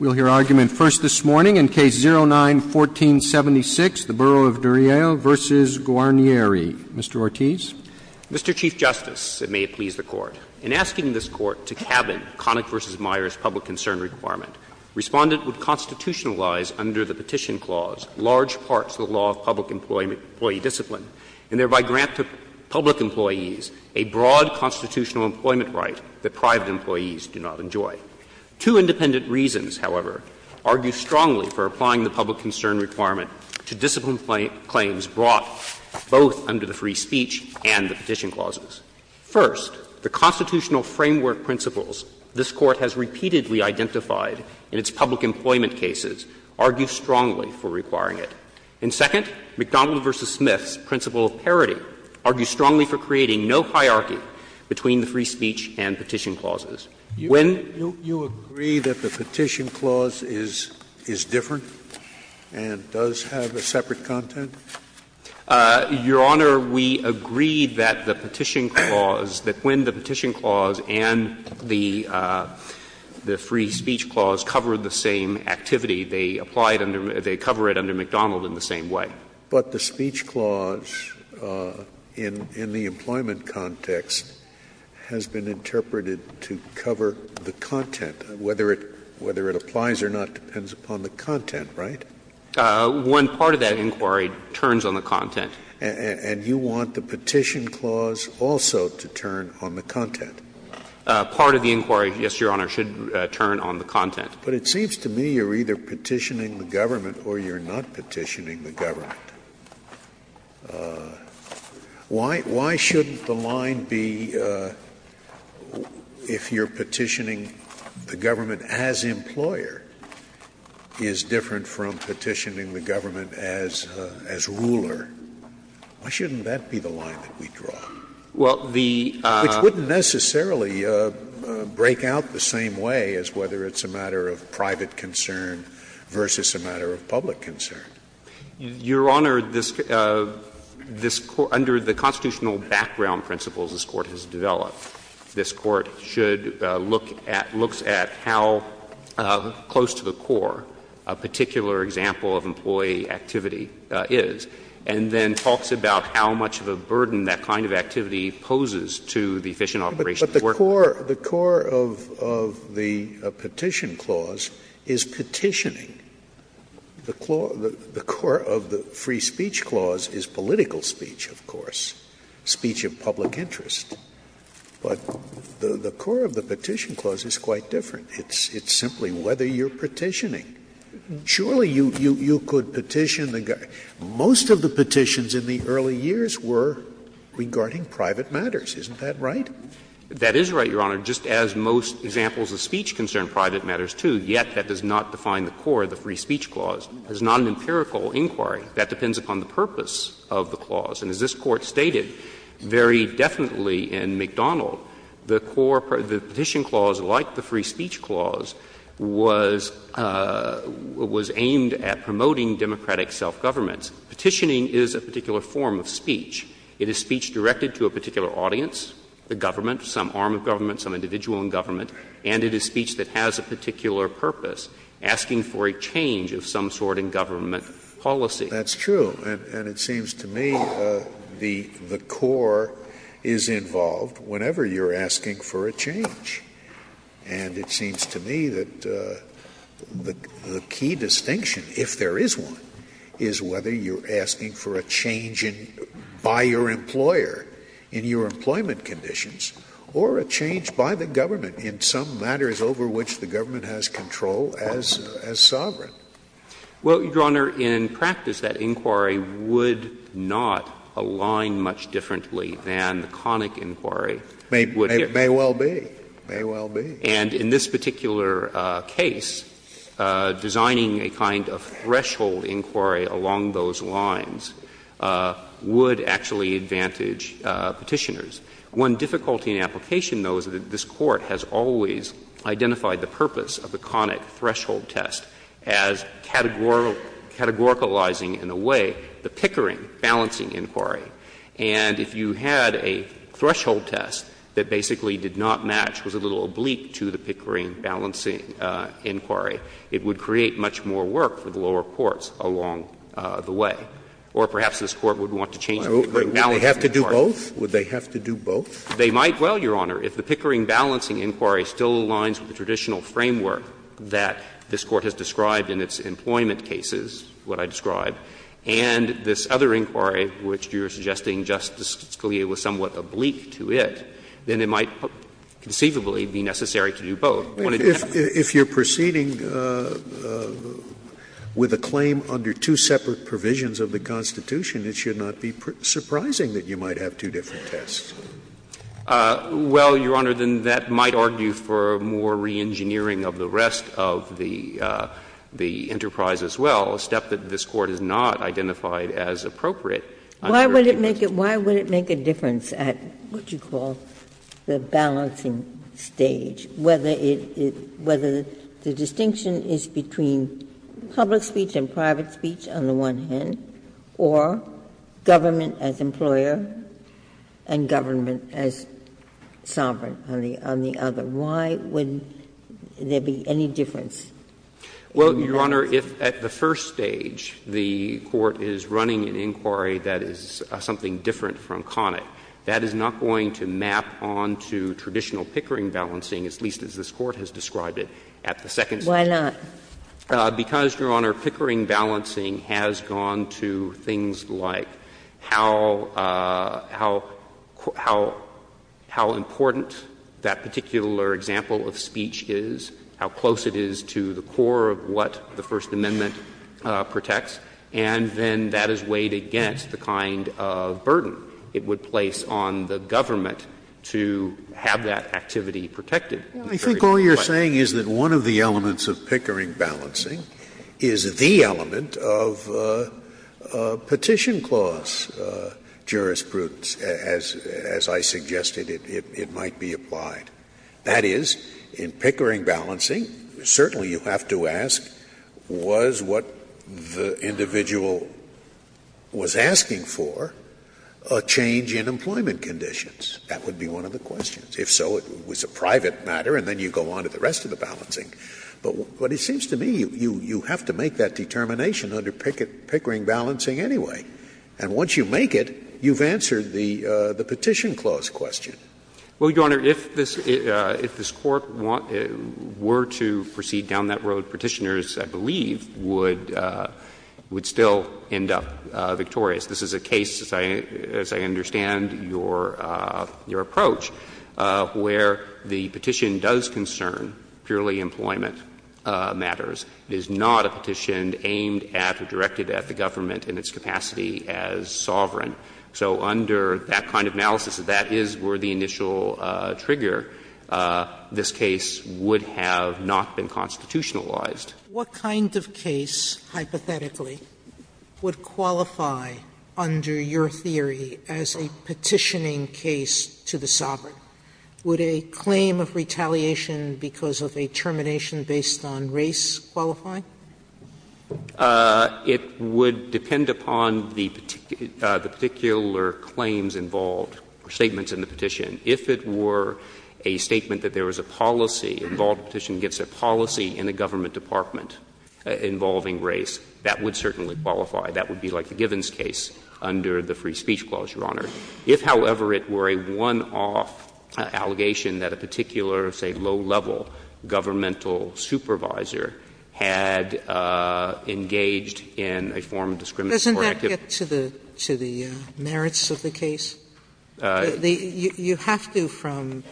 We'll hear argument first this morning in Case 09-1476, the Borough of Duryea v. Guarnieri. Mr. Ortiz. Mr. Chief Justice, and may it please the Court, in asking this Court to cabin Connick v. Myers' public concern requirement, Respondent would constitutionalize under the Petition Clause large parts of the law of public employee discipline, and thereby grant to public Two independent reasons, however, argue strongly for applying the public concern requirement to discipline claims brought both under the free speech and the Petition Clauses. First, the constitutional framework principles this Court has repeatedly identified in its public employment cases argue strongly for requiring it. And second, McDonald v. Smith's principle of parity argues strongly for creating no hierarchy between the free speech and Petition Clauses. When you agree that the Petition Clause is, is different and does have a separate content? Your Honor, we agree that the Petition Clause, that when the Petition Clause and the free speech clause cover the same activity, they apply it under, they cover it under McDonald in the same way. But the speech clause in, in the employment context has been interpreted to cover the content. Whether it, whether it applies or not depends upon the content, right? When part of that inquiry turns on the content. And you want the Petition Clause also to turn on the content? Part of the inquiry, yes, Your Honor, should turn on the content. But it seems to me you're either petitioning the government or you're not petitioning the government. Why, why shouldn't the line be, if you're petitioning the government as employer, is different from petitioning the government as, as ruler? Why shouldn't that be the line that we draw? Well, the. Which wouldn't necessarily break out the same way as whether it's a matter of private concern versus a matter of public concern. Your Honor, this, this, under the constitutional background principles this Court has developed, this Court should look at, looks at how close to the core a particular example of employee activity is, and then talks about how much of a burden that kind of activity poses to the efficient operation of work. But the core, the core of, of the Petition Clause is petitioning. The core, the core of the Free Speech Clause is political speech, of course, speech of public interest. But the core of the Petition Clause is quite different. It's, it's simply whether you're petitioning. Surely you, you, you could petition the government. Most of the petitions in the early years were regarding private matters. Isn't that right? That is right, Your Honor. Just as most examples of speech concern private matters, too. Yet that does not define the core of the Free Speech Clause. It's not an empirical inquiry. That depends upon the purpose of the clause. And as this Court stated very definitely in McDonald, the core, the Petition Clause, like the Free Speech Clause, was, was aimed at promoting democratic self-governments. Petitioning is a particular form of speech. It is speech directed to a particular audience, the government, some arm of government, some individual in government. And it is speech that has a particular purpose, asking for a change of some sort in government policy. That's true. And it seems to me the, the core is involved whenever you're asking for a change. And it seems to me that the, the key distinction, if there is one, is whether you're asking for a change in, by your employer in your employment conditions or a change by the government in some matters over which the government has control as, as sovereign. Well, Your Honor, in practice, that inquiry would not align much differently than the conic inquiry would. May, may well be. May well be. And in this particular case, designing a kind of threshold inquiry along those lines would actually advantage Petitioners. One difficulty in application, though, is that this Court has always identified the purpose of the conic threshold test as categoricalizing, in a way, the Pickering balancing inquiry. And if you had a threshold test that basically did not match, was a little oblique to the Pickering balancing inquiry, it would create much more work for the lower courts along the way. Would they have to do both? Would they have to do both? They might. Well, Your Honor, if the Pickering balancing inquiry still aligns with the traditional framework that this Court has described in its employment cases, what I described, and this other inquiry, which you're suggesting, Justice Scalia, was somewhat oblique to it, then it might conceivably be necessary to do both. If you're proceeding with a claim under two separate provisions of the Constitution, it should not be surprising that you might have two different tests. Well, Your Honor, then that might argue for more reengineering of the rest of the enterprise as well, a step that this Court has not identified as appropriate. Why would it make a difference at what you call the balancing stage, whether the distinction is between public speech and private speech on the one hand, or government as employer and government as sovereign on the other? Why would there be any difference? Well, Your Honor, if at the first stage the Court is running an inquiry that is something different from Connick, that is not going to map on to traditional Pickering balancing, at least as this Court has described it at the second stage. Why not? Because, Your Honor, Pickering balancing has gone to things like how important that particular example of speech is, how close it is to the core of what the First Amendment protects, and then that is weighed against the kind of burden it would place on the government to have that activity protected. I think all you are saying is that one of the elements of Pickering balancing is the element of Petition Clause jurisprudence, as I suggested it might be applied. That is, in Pickering balancing, certainly you have to ask, was what the individual was asking for a change in employment conditions? That would be one of the questions. If so, it was a private matter, and then you go on to the rest of the balancing. But it seems to me you have to make that determination under Pickering balancing anyway. And once you make it, you have answered the Petition Clause question. Well, Your Honor, if this Court were to proceed down that road, Petitioners, I believe, would still end up victorious. This is a case, as I understand your approach, where the petition does concern purely employment matters. It is not a petition aimed at or directed at the government in its capacity as sovereign. So under that kind of analysis, if that is where the initial trigger, this case would have not been constitutionalized. Sotomayor, what kind of case, hypothetically, would qualify under your theory as a petitioning case to the sovereign? Would a claim of retaliation because of a termination based on race qualify? It would depend upon the particular claims involved or statements in the petition. If it were a statement that there was a policy involved, a petition against a policy in the government department involving race, that would certainly qualify. That would be like the Givens case under the Free Speech Clause, Your Honor. If, however, it were a one-off allegation that a particular, say, low-level governmental supervisor had engaged in a form of discriminatory activity. Sotomayor, doesn't that get to the merits of the case? You have to from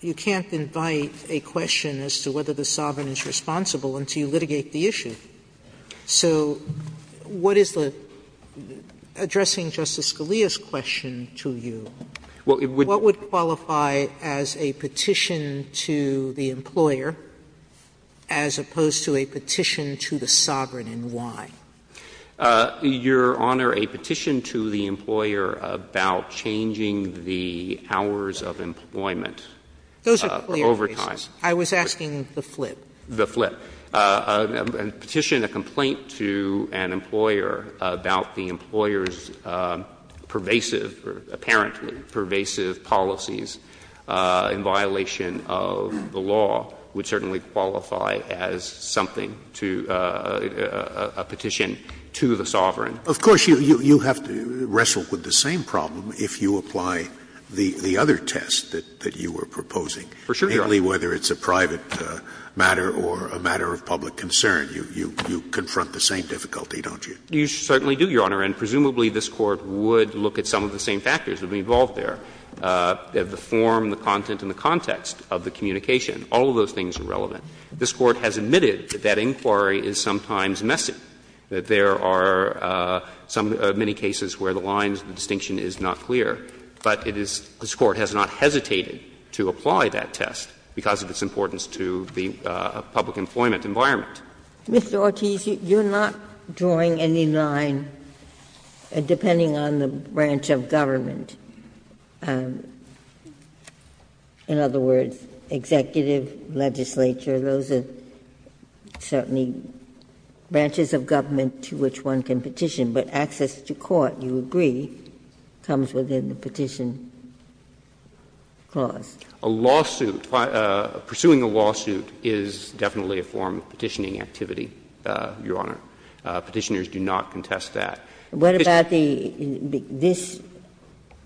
you can't invite a question as to whether the sovereign is responsible until you litigate the issue. So what is the, addressing Justice Scalia's question to you, what would qualify as a petition to the employer as opposed to a petition to the sovereign and why? Your Honor, a petition to the employer about changing the hours of employment Sotomayor, those are clear cases. I was asking the flip. The flip. A petition, a complaint to an employer about the employer's pervasive or apparently pervasive policies in violation of the law would certainly qualify as something to, a petition to the sovereign. Of course, you have to wrestle with the same problem if you apply the other test that you were proposing. For sure, Your Honor. Mainly whether it's a private matter or a matter of public concern. You confront the same difficulty, don't you? You certainly do, Your Honor. And presumably this Court would look at some of the same factors that would be involved there, the form, the content, and the context of the communication. All of those things are relevant. This Court has admitted that that inquiry is sometimes messy, that there are some of the many cases where the lines, the distinction is not clear, but it is, this Court has not hesitated to apply that test because of its importance to the public employment environment. Mr. Ortiz, you're not drawing any line, depending on the branch of government. In other words, executive, legislature, those are certainly branches of government to which one can petition, but access to court, you agree, comes within the petition clause. A lawsuit, pursuing a lawsuit is definitely a form of petitioning activity, Your Honor. Petitioners do not contest that. What about the – this,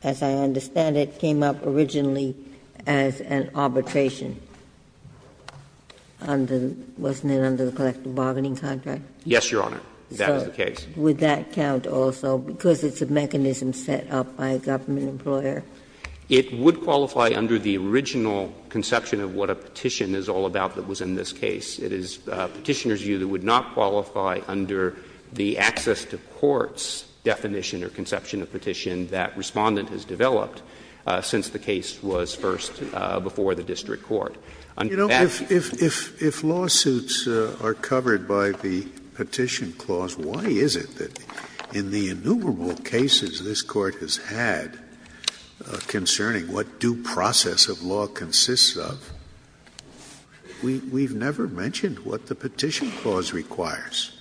as I understand it, came up originally as an arbitration on the – wasn't it under the collective bargaining contract? Yes, Your Honor, that is the case. Would that count also, because it's a mechanism set up by a government employer? It would qualify under the original conception of what a petition is all about that was in this case. It is Petitioner's view that it would not qualify under the access to courts definition or conception of petition that Respondent has developed since the case was first before the district court. Under that, you would qualify. Scalia, if lawsuits are covered by the Petition Clause, why is it that in the innumerable cases this Court has had concerning what due process of law consists of, we've never mentioned what the Petition Clause requires?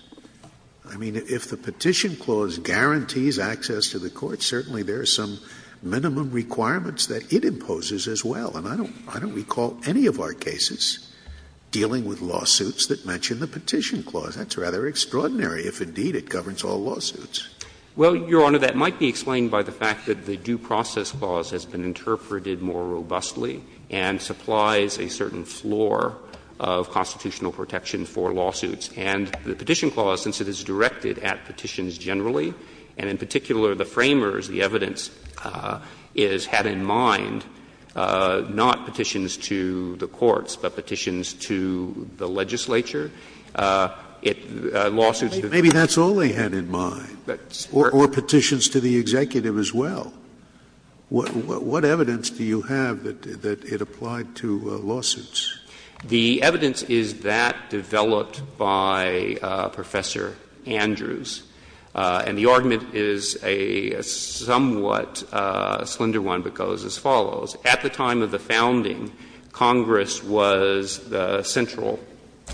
I mean, if the Petition Clause guarantees access to the courts, certainly there are some minimum requirements that it imposes as well. And I don't recall any of our cases dealing with lawsuits that mention the Petition Clause. That's rather extraordinary, if indeed it governs all lawsuits. Well, Your Honor, that might be explained by the fact that the Due Process Clause has been interpreted more robustly and supplies a certain floor of constitutional protection for lawsuits. And the Petition Clause, since it is directed at petitions generally, and in particular the framers, the evidence is had in mind, not petitions to the courts, but petitions to the legislature, it lawsuits the courts. Maybe that's all they had in mind, or petitions to the executive as well. What evidence do you have that it applied to lawsuits? The evidence is that developed by Professor Andrews. And the argument is a somewhat slender one, but goes as follows. At the time of the founding, Congress was the central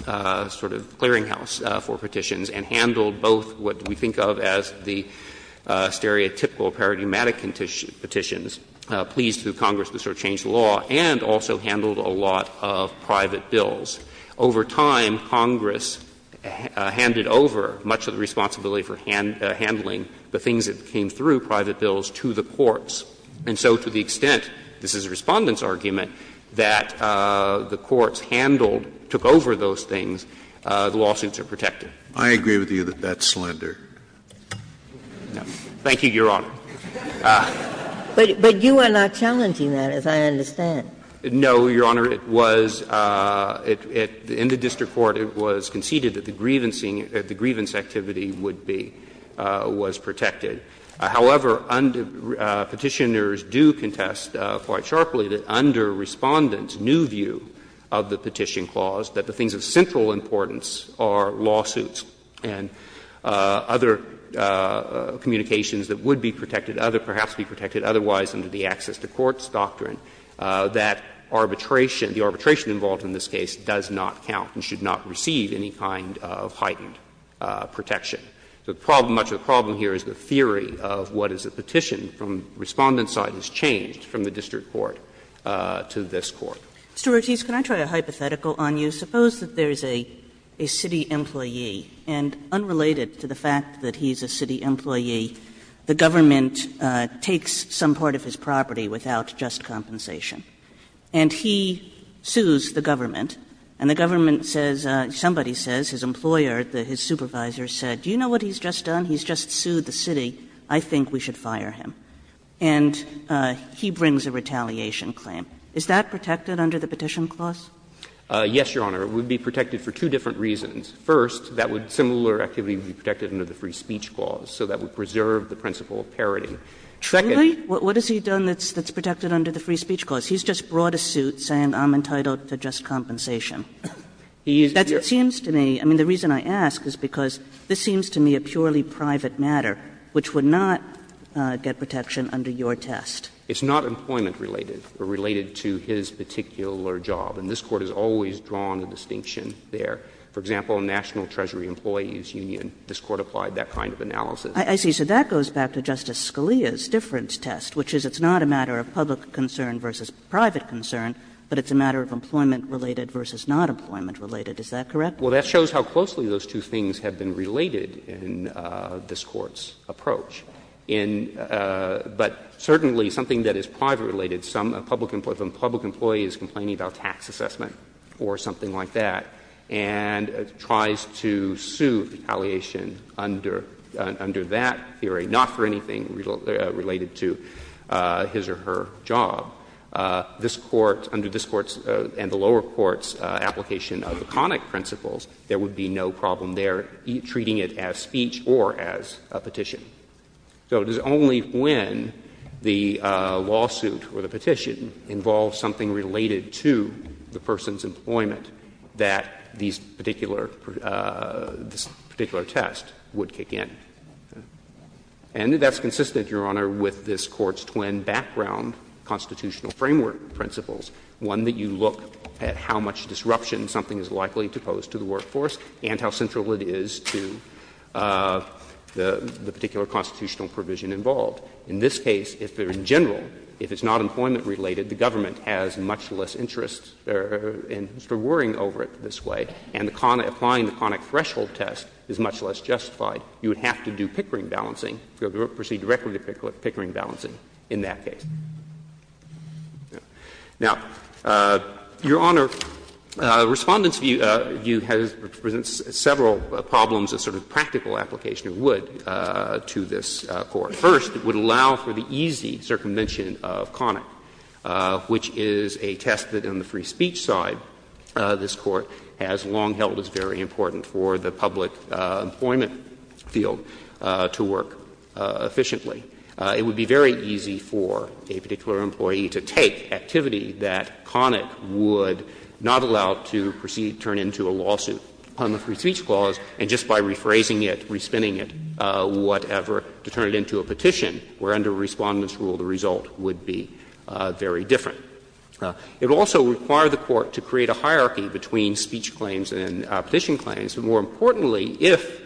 sort of clearinghouse for petitions and handled both what we think of as the stereotypical paradigmatic petitions, pleas to Congress to sort of change the law, and also handled a lot of private bills. Over time, Congress handed over much of the responsibility for handling the things that came through private bills to the courts. And so to the extent, this is a Respondent's argument, that the courts handled, took over those things, the lawsuits are protected. I agree with you that that's slender. Thank you, Your Honor. But you are not challenging that, as I understand. No, Your Honor. It was at the end of district court, it was conceded that the grievance activity would be, was protected. However, Petitioners do contest quite sharply that under Respondent's new view of the Petition Clause, that the things of central importance are lawsuits and other communications that would be protected, perhaps be protected otherwise under the Access to Courts doctrine, that arbitration, the arbitration involved in this case, does not count and should not receive any kind of heightened protection. The problem, much of the problem here is the theory of what is a petition from Respondent's side has changed from the district court to this court. Mr. Ortiz, can I try a hypothetical on you? Suppose that there is a city employee, and unrelated to the fact that he is a city employee, the government takes some part of his property without just compensation, and he sues the government, and the government says, somebody says, his employer, his supervisor said, do you know what he's just done? He's just sued the city. I think we should fire him. And he brings a retaliation claim. Is that protected under the Petition Clause? Yes, Your Honor. It would be protected for two different reasons. First, that would be similar activity would be protected under the Free Speech Clause, so that would preserve the principle of parody. Secondly, what has he done that's protected under the Free Speech Clause? He's just brought a suit saying I'm entitled to just compensation. That seems to me, I mean, the reason I ask is because this seems to me a purely private matter, which would not get protection under your test. It's not employment related, or related to his particular job. And this Court has always drawn a distinction there. For example, in National Treasury Employees Union, this Court applied that kind of analysis. I see. So that goes back to Justice Scalia's difference test, which is it's not a matter of public concern versus private concern, but it's a matter of employment related versus not employment related. Is that correct? Well, that shows how closely those two things have been related in this Court's approach. In — but certainly something that is private related, some public — if a public employee is complaining about tax assessment or something like that and tries to sue retaliation under that theory, not for anything related to his or her job, this Court, under this Court's and the lower court's application of the conic principles, there would be no problem there treating it as speech or as a petition. So it is only when the lawsuit or the petition involves something related to the person's employment that these particular — this particular test would kick in. And that's consistent, Your Honor, with this Court's twin background constitutional framework principles, one that you look at how much disruption something is likely to pose to the workforce and how central it is to the particular constitutional provision involved. In this case, if in general, if it's not employment related, the government has much less interest in worrying over it this way, and applying the conic threshold test is much less justified, you would have to do Pickering balancing, proceed directly to Pickering balancing in that case. Now, Your Honor, Respondent's view has — presents several problems as sort of practical application it would to this Court. First, it would allow for the easy circumvention of conic, which is a test that in the free speech side this Court has long held as very important for the public employment field to work efficiently. It would be very easy for a particular employee to take activity that conic would not allow to proceed, turn into a lawsuit on the free speech clause, and just by rephrasing it, re-spinning it, whatever, to turn it into a petition, where under Respondent's rule the result would be very different. It would also require the Court to create a hierarchy between speech claims and petition claims, and more importantly, if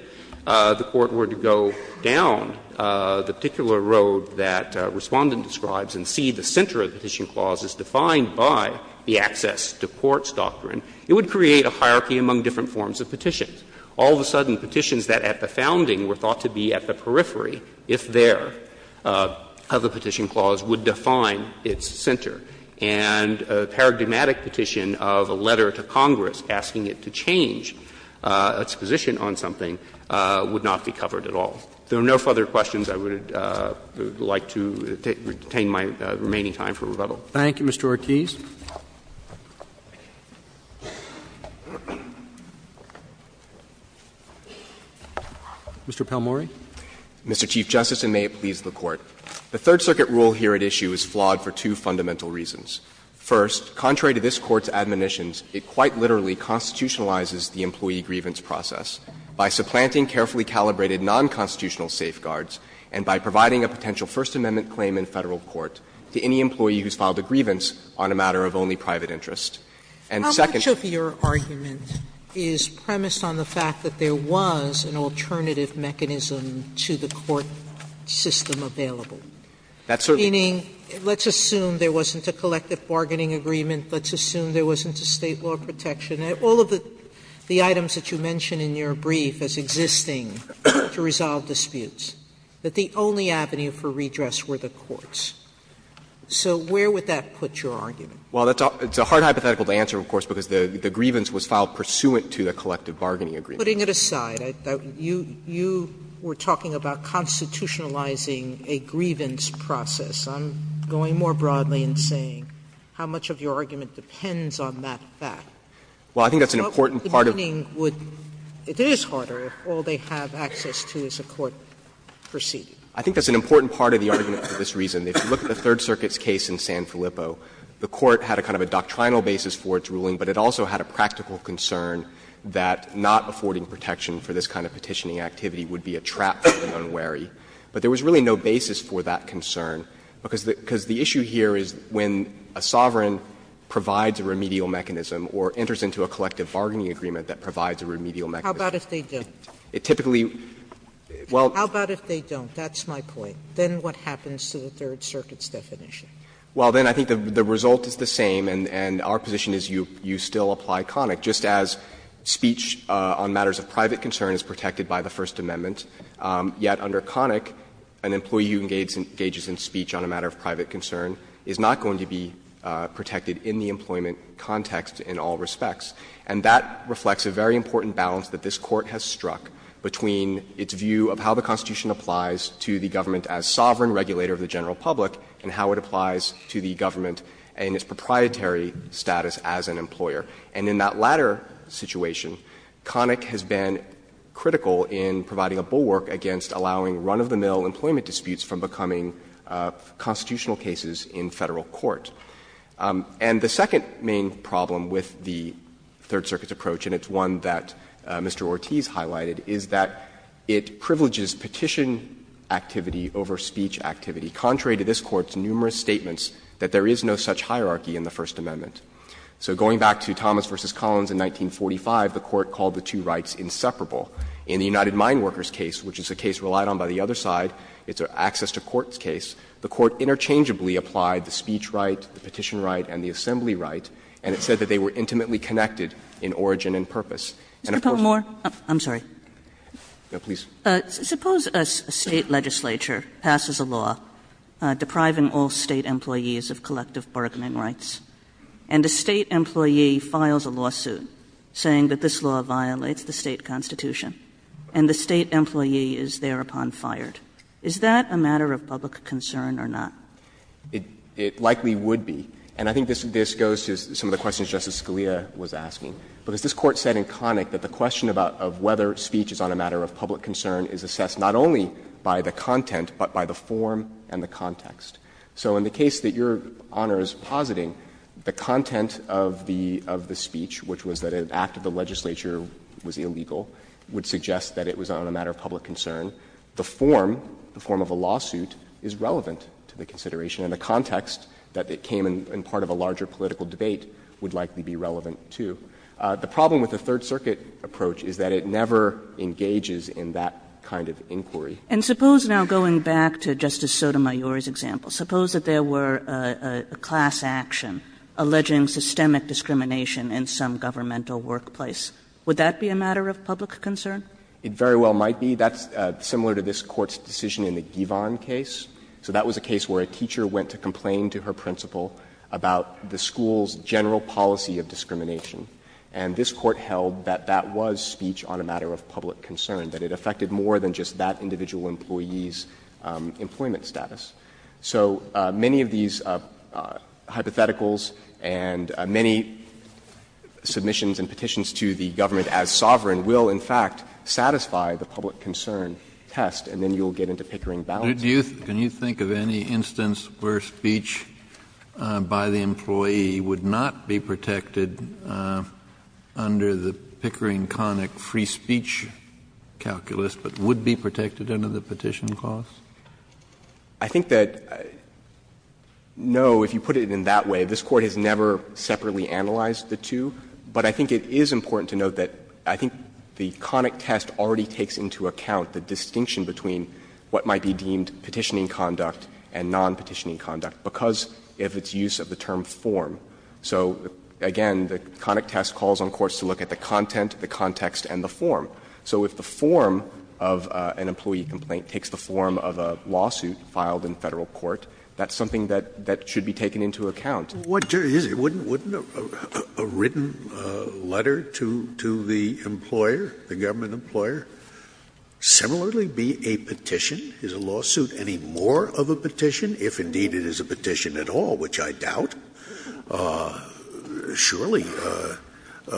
the Court were to go down the particular road that Respondent describes and see the center of the petition clause as defined by the access to courts doctrine, it would create a hierarchy among different forms of petitions. All of a sudden, petitions that at the founding were thought to be at the periphery, if there, of the petition clause would define its center, and a paradigmatic petition of a letter to Congress asking it to change its position on something would not be covered at all. If there are no further questions, I would like to retain my remaining time for rebuttal. Thank you, Mr. Ortiz. Mr. Palmore. Mr. Chief Justice, and may it please the Court. The Third Circuit rule here at issue is flawed for two fundamental reasons. First, contrary to this Court's admonitions, it quite literally constitutionalizes the employee grievance process by supplanting carefully calibrated nonconstitutional safeguards and by providing a potential First Amendment claim in Federal court to any employee who's filed a grievance on a matter of only private interest. And second of your argument is premised on the fact that there was an alternative mechanism to the court system available, meaning let's assume there wasn't a collective bargaining agreement, let's assume there wasn't a State law protection. All of the items that you mention in your brief as existing to resolve disputes, that the only avenue for redress were the courts. So where would that put your argument? Well, that's a hard hypothetical to answer, of course, because the grievance was filed pursuant to the collective bargaining agreement. Putting it aside, you were talking about constitutionalizing a grievance process. I'm going more broadly in saying how much of your argument depends on that fact. Well, I think that's an important part of the argument. It is harder if all they have access to is a court proceeding. I think that's an important part of the argument for this reason. If you look at the Third Circuit's case in San Filippo, the court had a kind of a doctrinal basis for its ruling, but it also had a practical concern that not affording protection for this kind of petitioning activity would be a trap for the unwary. But there was really no basis for that concern, because the issue here is when a sovereign provides a remedial mechanism or enters into a collective bargaining agreement that provides a remedial mechanism. Sotomayor, it typically, well. Sotomayor, how about if they don't? That's my point. Then what happens to the Third Circuit's definition? Well, then I think the result is the same, and our position is you still apply conic, just as speech on matters of private concern is protected by the First Amendment, yet under conic, an employee who engages in speech on a matter of private concern is not going to be protected in the employment context in all respects. And that reflects a very important balance that this Court has struck between its view of how the Constitution applies to the government as sovereign regulator of the general public and how it applies to the government and its proprietary status as an employer. And in that latter situation, conic has been critical in providing a bulwark against allowing run-of-the-mill employment disputes from becoming constitutional cases in Federal court. And the second main problem with the Third Circuit's approach, and it's one that Mr. Ortiz highlighted, is that it privileges petition activity over speech activity, contrary to this Court's numerous statements that there is no such hierarchy in the First Amendment. So going back to Thomas v. Collins in 1945, the Court called the two rights inseparable. In the United Mine Workers case, which is a case relied on by the other side, it's an access to courts case, the Court interchangeably applied the speech right, the petition right, and the assembly right, and it said that they were intimately connected in origin and purpose. And of course the State legislature passes a law depriving all State employees of collective bargaining rights. And a State employee files a lawsuit saying that this law violates the State constitution, and the State employee is thereupon fired. Is that a matter of public concern or not? It likely would be. And I think this goes to some of the questions Justice Scalia was asking. Because this Court said in conic that the question about whether speech is on a matter of public concern is assessed not only by the content, but by the form and the context. So in the case that Your Honor is positing, the content of the speech, which was that an act of the legislature was illegal, would suggest that it was on a matter of public concern. The form, the form of a lawsuit, is relevant to the consideration, and the context that it came in part of a larger political debate would likely be relevant, too. The problem with the Third Circuit approach is that it never engages in that kind of inquiry. And suppose now going back to Justice Sotomayor's example, suppose that there were a class action alleging systemic discrimination in some governmental workplace. Would that be a matter of public concern? It very well might be. That's similar to this Court's decision in the Givon case. So that was a case where a teacher went to complain to her principal about the school's general policy of discrimination, and this Court held that that was speech on a matter of public concern, that it affected more than just that individual employee's employment status. So many of these hypotheticals and many submissions and petitions to the government as sovereign will, in fact, satisfy the public concern test, and then you'll get into Pickering balance. Kennedy, can you think of any instance where speech by the employee would not be protected under the Pickering-Connick free speech calculus, but would be protected under the petition clause? I think that, no, if you put it in that way, this Court has never separately analyzed the two, but I think it is important to note that I think the Connick test already takes into account the distinction between what might be deemed petitioning conduct and non-petitioning conduct because of its use of the term form. So, again, the Connick test calls on courts to look at the content, the context, and the form. So if the form of an employee complaint takes the form of a lawsuit filed in Federal court, that's something that should be taken into account. Scalia, wouldn't a written letter to the employer, the government employer, similarly be a petition? Is a lawsuit any more of a petition, if indeed it is a petition at all, which I doubt? Surely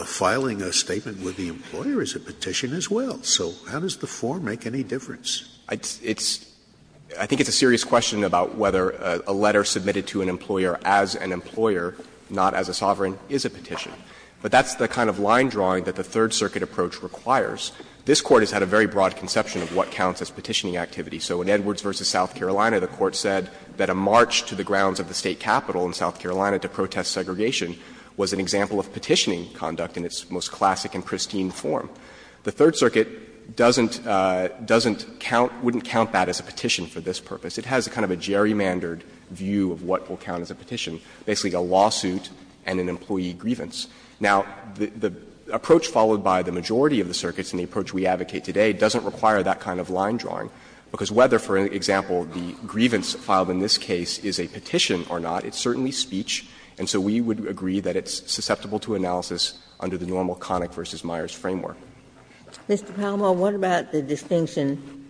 filing a statement with the employer is a petition as well. So how does the form make any difference? I think it's a serious question about whether a letter submitted to an employer as an employer, not as a sovereign, is a petition. But that's the kind of line drawing that the Third Circuit approach requires. This Court has had a very broad conception of what counts as petitioning activity. So in Edwards v. South Carolina, the Court said that a march to the grounds of the State Capitol in South Carolina to protest segregation was an example of petitioning conduct in its most classic and pristine form. The Third Circuit doesn't count, wouldn't count that as a petition for this purpose. It has a kind of a gerrymandered view of what will count as a petition, basically a lawsuit and an employee grievance. Now, the approach followed by the majority of the circuits and the approach we advocate today doesn't require that kind of line drawing, because whether, for example, the grievance filed in this case is a petition or not, it's certainly speech. And so we would agree that it's susceptible to analysis under the normal Connick v. Myers framework. Ginsburg. Mr. Palmore, what about the distinction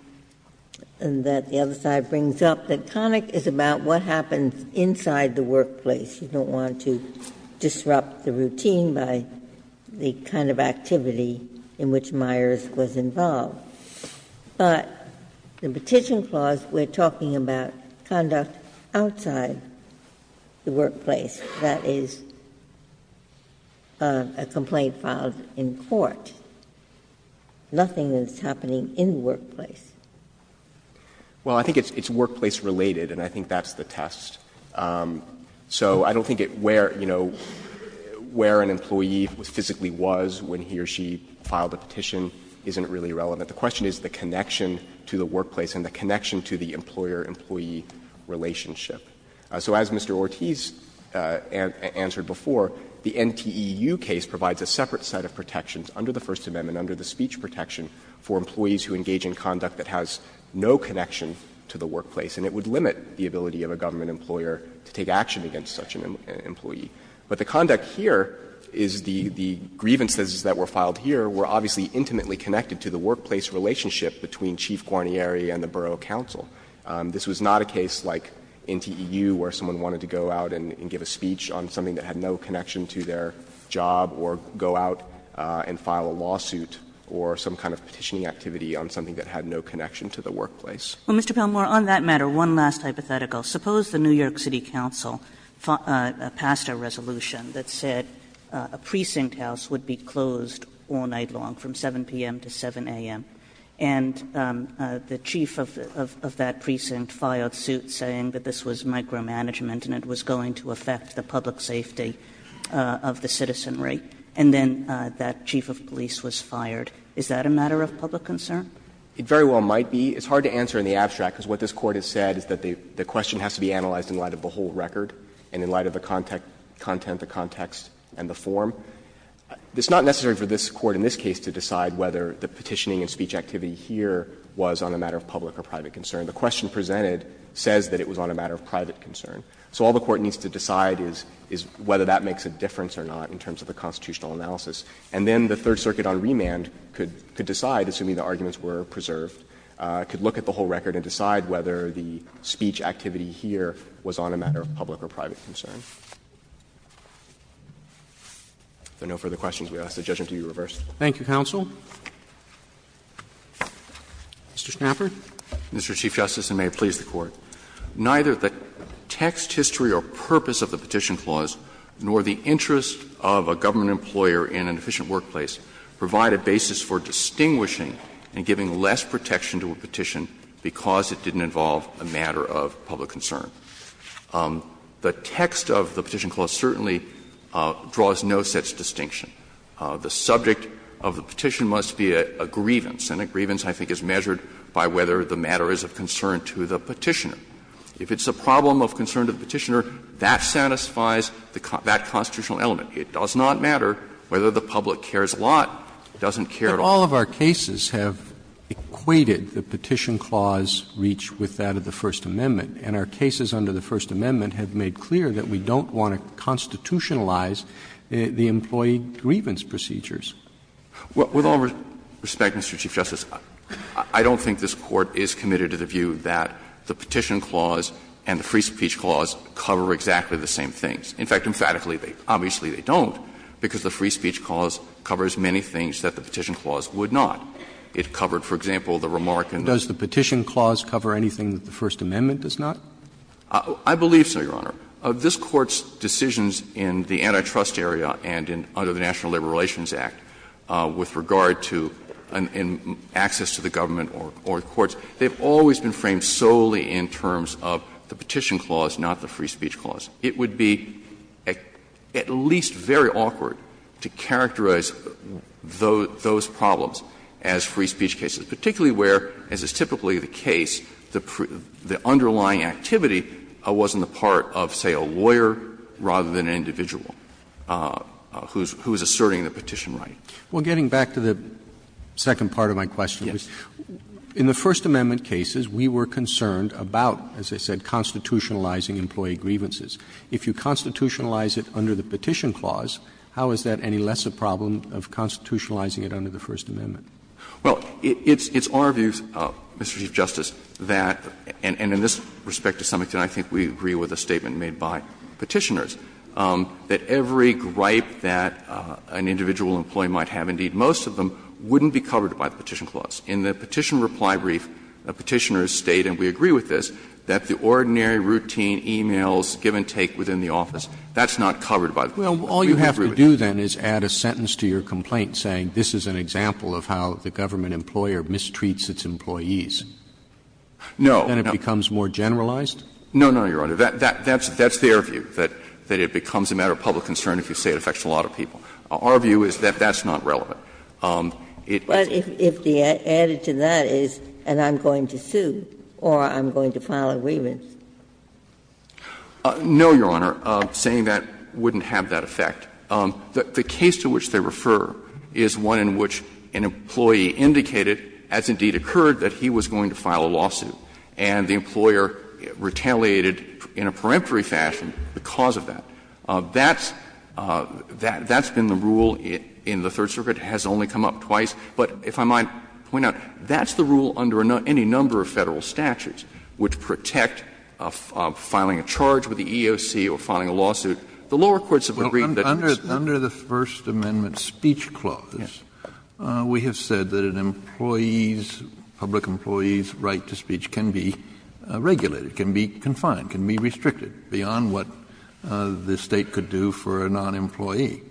that the other side brings up, that Connick is about what happens inside the workplace? You don't want to disrupt the routine by the kind of activity in which Myers was involved. But the petition clause, we're talking about conduct outside the workplace. That is a complaint filed in court. Nothing is happening in the workplace. Well, I think it's workplace-related, and I think that's the test. So I don't think it — where, you know, where an employee physically was when he or she filed a petition isn't really relevant. The question is the connection to the workplace and the connection to the employer-employee relationship. So as Mr. Ortiz answered before, the NTEU case provides a separate set of protections under the First Amendment, under the speech protection, for employees who engage in conduct that has no connection to the workplace. And it would limit the ability of a government employer to take action against such an employee. But the conduct here is the grievances that were filed here were obviously intimately connected to the workplace relationship between Chief Guarnieri and the borough counsel. This was not a case like NTEU where someone wanted to go out and give a speech on something that had no connection to their job or go out and file a lawsuit or some kind of petitioning activity on something that had no connection to the workplace. Kagan. Well, Mr. Palmore, on that matter, one last hypothetical. Suppose the New York City Council passed a resolution that said a precinct house would be closed all night long from 7 p.m. to 7 a.m., and the chief of that precinct filed suit saying that this was micromanagement and it was going to affect the public safety of the citizenry, and then that chief of police was fired. Is that a matter of public concern? Palmore. It very well might be. It's hard to answer in the abstract, because what this Court has said is that the question has to be analyzed in light of the whole record and in light of the content, the context, and the form. It's not necessary for this Court in this case to decide whether the petitioning and speech activity here was on a matter of public or private concern. The question presented says that it was on a matter of private concern. So all the Court needs to decide is whether that makes a difference or not in terms of the constitutional analysis. And then the Third Circuit on remand could decide, assuming the arguments were preserved, could look at the whole record and decide whether the speech activity here was on a matter of public or private concern. If there are no further questions, we ask that judgment be reversed. Roberts. Thank you, counsel. Mr. Schnapper. Mr. Chief Justice, and may it please the Court, neither the text, history, or purpose of the petition clause nor the interest of a government employer in an efficient workplace provide a basis for distinguishing and giving less protection to a petition because it didn't involve a matter of public concern. The text of the petition clause certainly draws no such distinction. The subject of the petition must be a grievance, and a grievance, I think, is measured by whether the matter is of concern to the Petitioner. If it's a problem of concern to the Petitioner, that satisfies that constitutional element. It does not matter whether the public cares a lot, doesn't care at all. But all of our cases have equated the petition clause reach with that of the First Amendment, and our cases under the First Amendment have made clear that we don't want to constitutionalize the employee grievance procedures. With all respect, Mr. Chief Justice, I don't think this Court is committed to the view that the petition clause and the free speech clause cover exactly the same things. In fact, emphatically, obviously they don't, because the free speech clause covers many things that the petition clause would not. It covered, for example, the remark in the Roberts' case. Roberts I believe so, Your Honor. This Court's decisions in the antitrust area and under the National Labor Relations Act with regard to access to the government or the courts, they have always been framed solely in terms of the petition clause, not the free speech clause. It would be at least very awkward to characterize those problems as free speech cases, particularly where, as is typically the case, the underlying activity wasn't the part of, say, a lawyer rather than an individual who is asserting the petition right. Roberts Well, getting back to the second part of my question, in the First Amendment cases, we were concerned about, as I said, constitutionalizing employee grievances. If you constitutionalize it under the petition clause, how is that any less a problem of constitutionalizing it under the First Amendment? Gannon Well, it's our view, Mr. Chief Justice, that, and in this respect to some extent I think we agree with a statement made by Petitioners, that every gripe that an individual employee might have, indeed most of them, wouldn't be covered by the petition clause. In the Petition Reply Brief, Petitioners state, and we agree with this, that the ordinary routine e-mails give and take within the office, that's not covered by the Petition Roberts Well, all you have to do, then, is add a sentence to your complaint saying this is an example of how the government employer mistreats its employees. Gannon No. Roberts Then it becomes more generalized? Gannon No, no, Your Honor. That's their view, that it becomes a matter of public concern if you say it affects a lot of people. Our view is that that's not relevant. It's a matter of public concern. No, Your Honor, saying that wouldn't have that effect. The case to which they refer is one in which an employee indicated, as indeed occurred, that he was going to file a lawsuit, and the employer retaliated in a peremptory fashion because of that. That's been the rule in the Third Circuit, has only come up twice. But if I might point out, that's the rule under any number of Federal statutes which protect filing a charge with the EEOC or filing a lawsuit. The lower courts have agreed that it's not. Kennedy Under the First Amendment speech clause, we have said that an employee's, public employee's right to speech can be regulated, can be confined, can be restricted beyond what the State could do for a non-employee.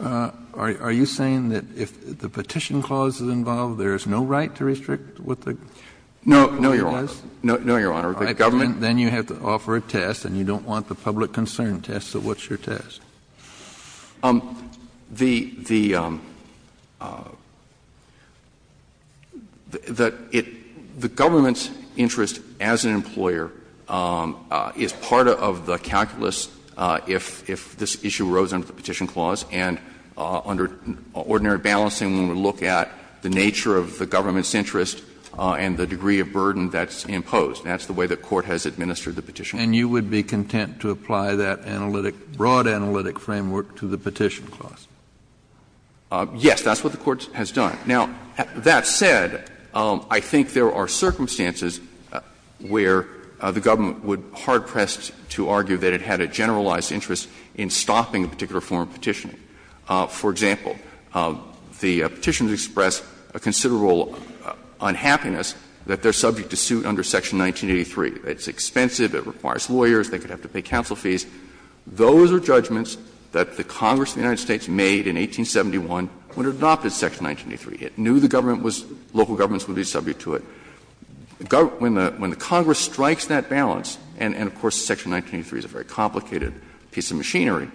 Are you saying that if the Petition Clause is involved, there is no right to restrict what the employee does? No, Your Honor. The government Then you have to offer a test, and you don't want the public concern test. So what's your test? The government's interest as an employer is part of the calculus if this issue arose under the Petition Clause, and under ordinary balancing, when we look at the nature And that's the way the Court has administered the Petition Clause. And you would be content to apply that analytic, broad analytic framework to the Petition Clause? Yes, that's what the Court has done. Now, that said, I think there are circumstances where the government would hard-pressed to argue that it had a generalized interest in stopping a particular form of petitioning. For example, the Petitioners expressed a considerable unhappiness that they are subject to suit under Section 1983. It's expensive, it requires lawyers, they could have to pay counsel fees. Those are judgments that the Congress of the United States made in 1871 when it adopted Section 1983. It knew the government was, local governments would be subject to it. When the Congress strikes that balance, and, of course, Section 1983 is a very complicated piece of machinery,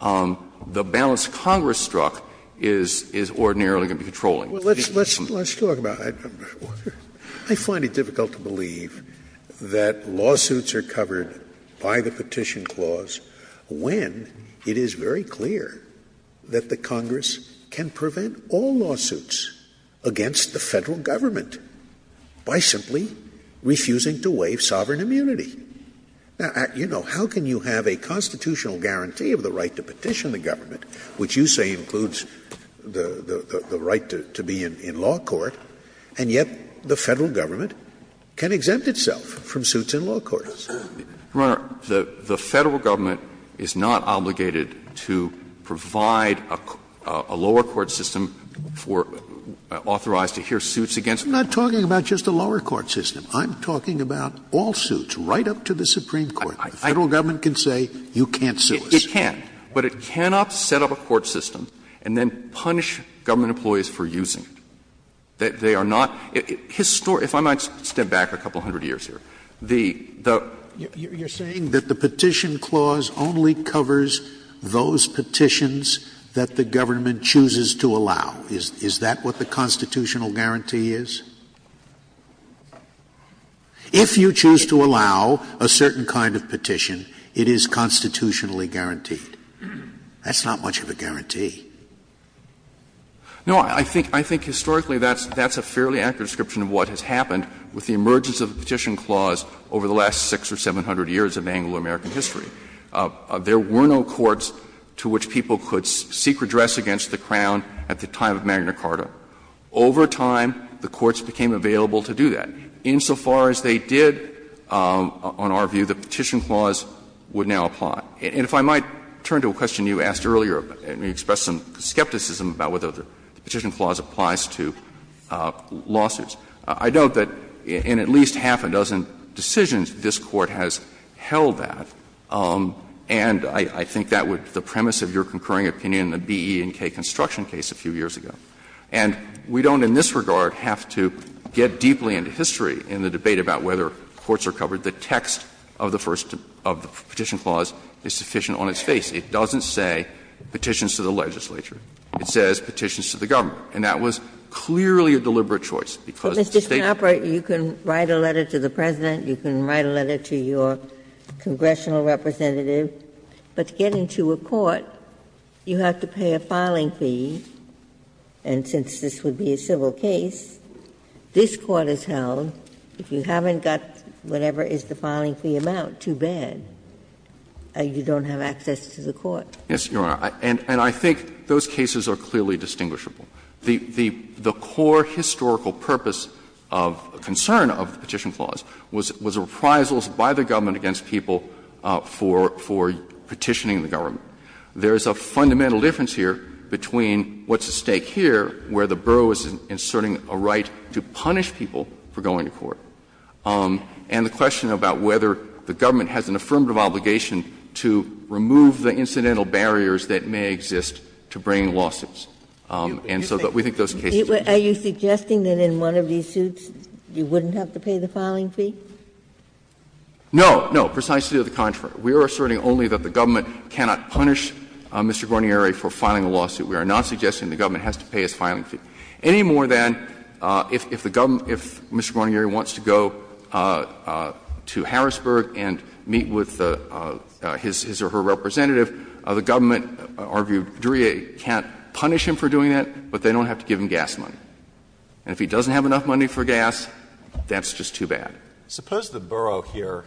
the balance Congress struck is ordinarily going to be controlling. Well, let's talk about it. I find it difficult to believe that lawsuits are covered by the Petition Clause when it is very clear that the Congress can prevent all lawsuits against the Federal government by simply refusing to waive sovereign immunity. Now, you know, how can you have a constitutional guarantee of the right to petition in the government, which you say includes the right to be in law court, and yet the Federal government can exempt itself from suits in law courts? The Federal government is not obligated to provide a lower court system for to authorize to hear suits against the Federal government. I'm not talking about just a lower court system. I'm talking about all suits, right up to the Supreme Court. The Federal government can say, you can't sue us. It can't. But it cannot set up a court system and then punish government employees for using it. They are not — if I might step back a couple hundred years here, the, the… Scalia You're saying that the Petition Clause only covers those petitions that the government chooses to allow. Is that what the constitutional guarantee is? If you choose to allow a certain kind of petition, it is constitutionally guaranteed. That's not much of a guarantee. No, I think, I think historically that's, that's a fairly accurate description of what has happened with the emergence of the Petition Clause over the last 600 or 700 years of Anglo-American history. There were no courts to which people could seek redress against the Crown at the time of Magna Carta. Over time, the courts became available to do that. Insofar as they did, on our view, the Petition Clause would now apply. And if I might turn to a question you asked earlier, you expressed some skepticism about whether the Petition Clause applies to lawsuits. I note that in at least half a dozen decisions, this Court has held that, and I, I think that would be the premise of your concurring opinion in the B, E, and K construction case a few years ago. And we don't in this regard have to get deeply into history in the debate about whether courts are covered. The text of the first, of the Petition Clause is sufficient on its face. It doesn't say petitions to the legislature. It says petitions to the government. And that was clearly a deliberate choice, because the State couldn't do it. Ginsburg. Ginsburg. But, Mr. Schnapper, you can write a letter to the President, you can write a letter to your congressional representative, but to get into a court, you have to pay a filing fee. And since this would be a civil case, this Court has held if you haven't got whatever is the filing fee amount, too bad, you don't have access to the court. Schnapper. Yes, Your Honor, and I think those cases are clearly distinguishable. The core historical purpose of concern of the Petition Clause was reprisals by the government against people for, for petitioning the government. There is a fundamental difference here between what's at stake here, where the borough is inserting a right to punish people for going to court, and the question about whether the government has an affirmative obligation to remove the incidental barriers that may exist to bringing lawsuits. And so we think those cases are different. Are you suggesting that in one of these suits you wouldn't have to pay the filing fee? No, no, precisely to the contrary. We are asserting only that the government cannot punish Mr. Guarnieri for filing a lawsuit. We are not suggesting the government has to pay his filing fee, any more than if the government, if Mr. Guarnieri wants to go to Harrisburg and meet with his or her representative, the government, argued, can't punish him for doing that, but they don't have to give him gas money. And if he doesn't have enough money for gas, that's just too bad. Alito, suppose the borough here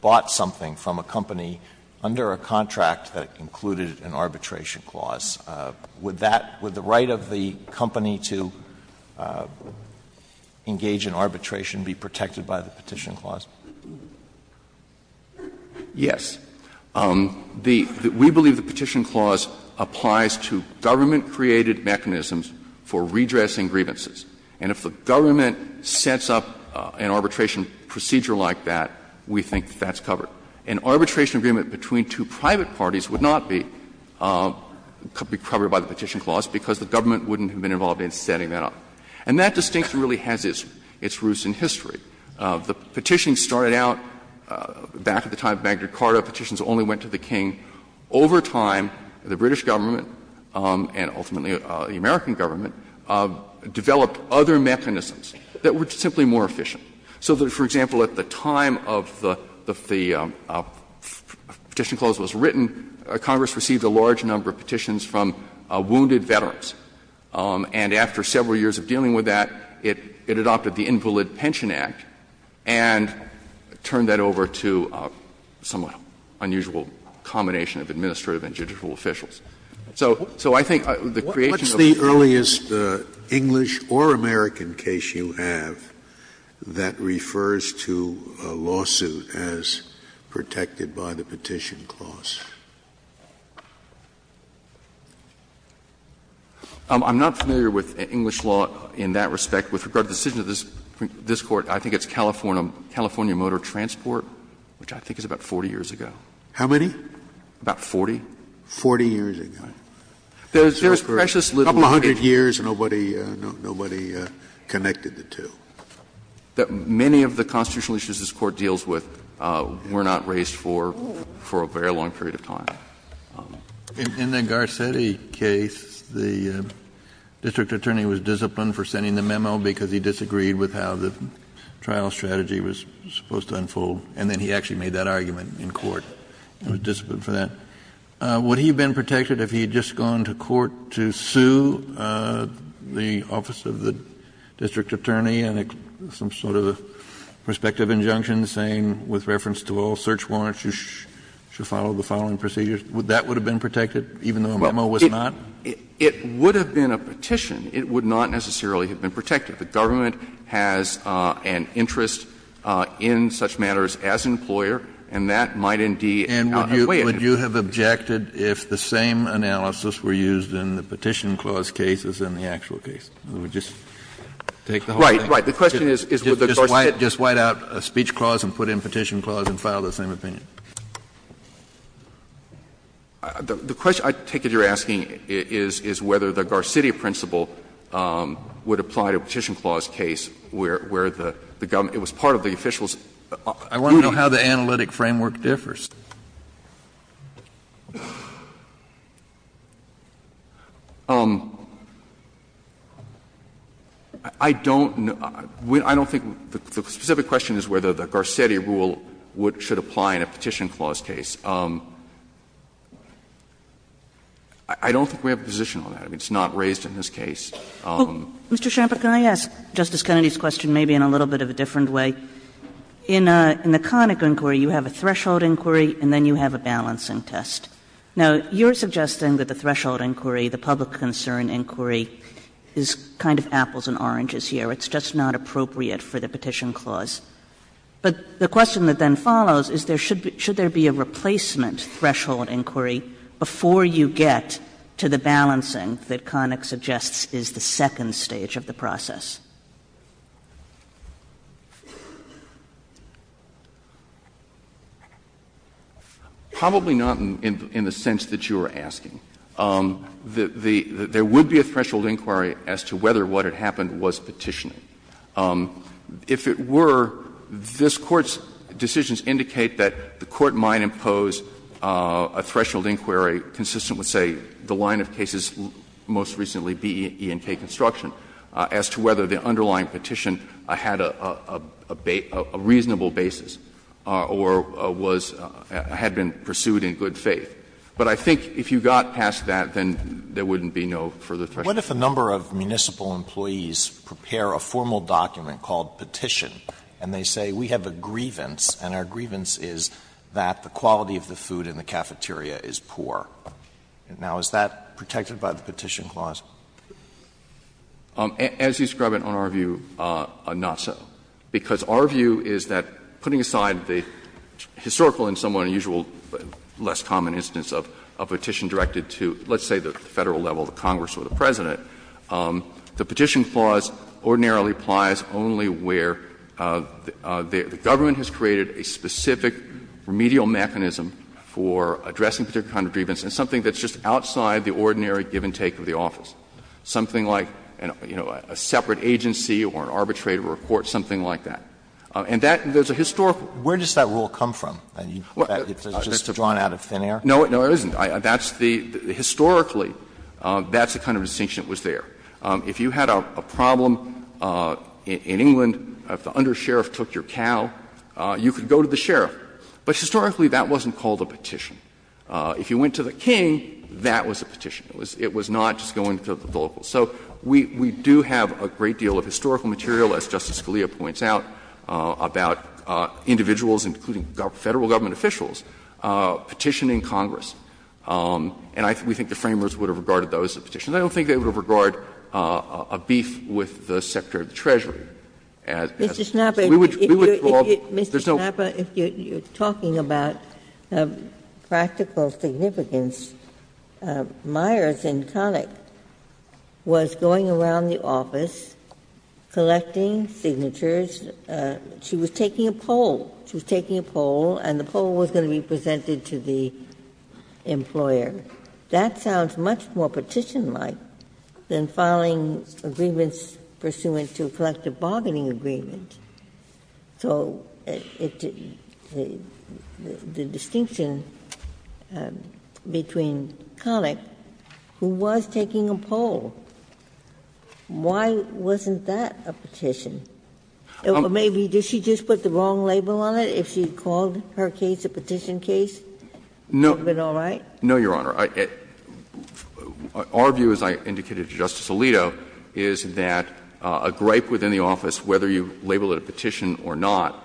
bought something from a company under a contract that included an arbitration clause. Would that, would the right of the company to engage in arbitration be protected by the Petition Clause? Yes. We believe the Petition Clause applies to government-created mechanisms for redressing grievances. And if the government sets up an arbitration procedure like that, we think that's covered. An arbitration agreement between two private parties would not be covered by the Petition Clause because the government wouldn't have been involved in setting that up. And that distinction really has its roots in history. The Petition started out back at the time of Magna Carta. Petitions only went to the King. Over time, the British government and ultimately the American government developed other mechanisms that were simply more efficient. So that, for example, at the time of the Petition Clause was written, Congress received a large number of petitions from wounded veterans. And after several years of dealing with that, it adopted the Invalid Pension Act and turned that over to a somewhat unusual combination of administrative and judicial officials. Scalia, what is the English or American case you have that refers to a lawsuit as protected by the Petition Clause? I'm not familiar with English law in that respect. With regard to the decision of this Court, I think it's California Motor Transport, which I think is about 40 years ago. How many? About 40. Forty years ago. There's precious little data. A couple hundred years and nobody connected the two. Many of the constitutional issues this Court deals with were not raised for a very long period of time. In the Garcetti case, the district attorney was disciplined for sending the memo because he disagreed with how the trial strategy was supposed to unfold, and then he actually made that argument in court. He was disciplined for that. Would he have been protected if he had just gone to court to sue the office of the district attorney and some sort of a prospective injunction saying, with reference to all search warrants, you should follow the following procedures? That would have been protected, even though a memo was not? It would have been a petition. It would not necessarily have been protected. The government has an interest in such matters as employer, and that might indeed outweigh it. Kennedy And would you have objected if the same analysis were used in the Petition Clause case as in the actual case? Or would you just take the whole thing? Verrilli, Right. The question is, would the Garcetti principle? Kennedy Just white out a speech clause and put in Petition Clause and file the same opinion. Verrilli, The question I take that you're asking is whether the Garcetti principle would apply to a Petition Clause case where the government was part of the official's duty. Kennedy I want to know how the analytic framework differs. I don't think the specific question is whether the Garcetti rule should apply in a Petition Clause case. I don't think we have a position on that. I mean, it's not raised in this case. Kagan Mr. Schampert, can I ask Justice Kennedy's question maybe in a little bit of a different way? In the Connick inquiry, you have a threshold inquiry and then you have a balancing test. Now, you're suggesting that the threshold inquiry, the public concern inquiry, is kind of apples and oranges here. It's just not appropriate for the Petition Clause. But the question that then follows is there should be a replacement threshold inquiry before you get to the balancing that Connick suggests is the second stage of the process. Schampert Probably not in the sense that you are asking. There would be a threshold inquiry as to whether what had happened was petitioning. If it were, this Court's decisions indicate that the Court might impose a threshold inquiry consistent with, say, the line of cases most recently, B, E, and K construction, as to whether the underlying petition had a reasonable basis or was or had been pursued in good faith. But I think if you got past that, then there wouldn't be no further threshold inquiry. Alito What if a number of municipal employees prepare a formal document called Petition and they say we have a grievance and our grievance is that the quality of the food in the cafeteria is poor? Now, is that protected by the Petition Clause? Schampert As you describe it in our view, not so. Because our view is that, putting aside the historical and somewhat unusual, less common instance of a petition directed to, let's say, the Federal level, the Congress or the President, the Petition Clause ordinarily applies only where the government has created a specific remedial mechanism for addressing a particular kind of grievance and something that's just outside the ordinary give and take of the Federal level. Something like, you know, a separate agency or an arbitrator or a court, something like that. And that, there's a historical. Alito Where does that rule come from? It's just drawn out of thin air? Schampert No, it isn't. That's the, historically, that's the kind of distinction that was there. If you had a problem in England, if the undersheriff took your cow, you could go to the sheriff. If you went to the king, that was a petition. It was not just going to the local. So we do have a great deal of historical material, as Justice Scalia points out, about individuals, including Federal government officials, petitioning Congress. And I think the Framers would have regarded those as petitions. I don't think they would have regarded a beef with the Secretary of the Treasury as a petition. We would call it, there's no question. Ginsburg's daughter, Myers, in Connick, was going around the office, collecting signatures. She was taking a poll. She was taking a poll, and the poll was going to be presented to the employer. That sounds much more petition-like than filing agreements pursuant to a collective bargaining agreement. So the distinction between Connick, who was taking a poll, why wasn't that a petition? Or maybe did she just put the wrong label on it? If she called her case a petition case, would it have been all right? No, Your Honor. Our view, as I indicated to Justice Alito, is that a gripe within the office, whether you label it a petition or not,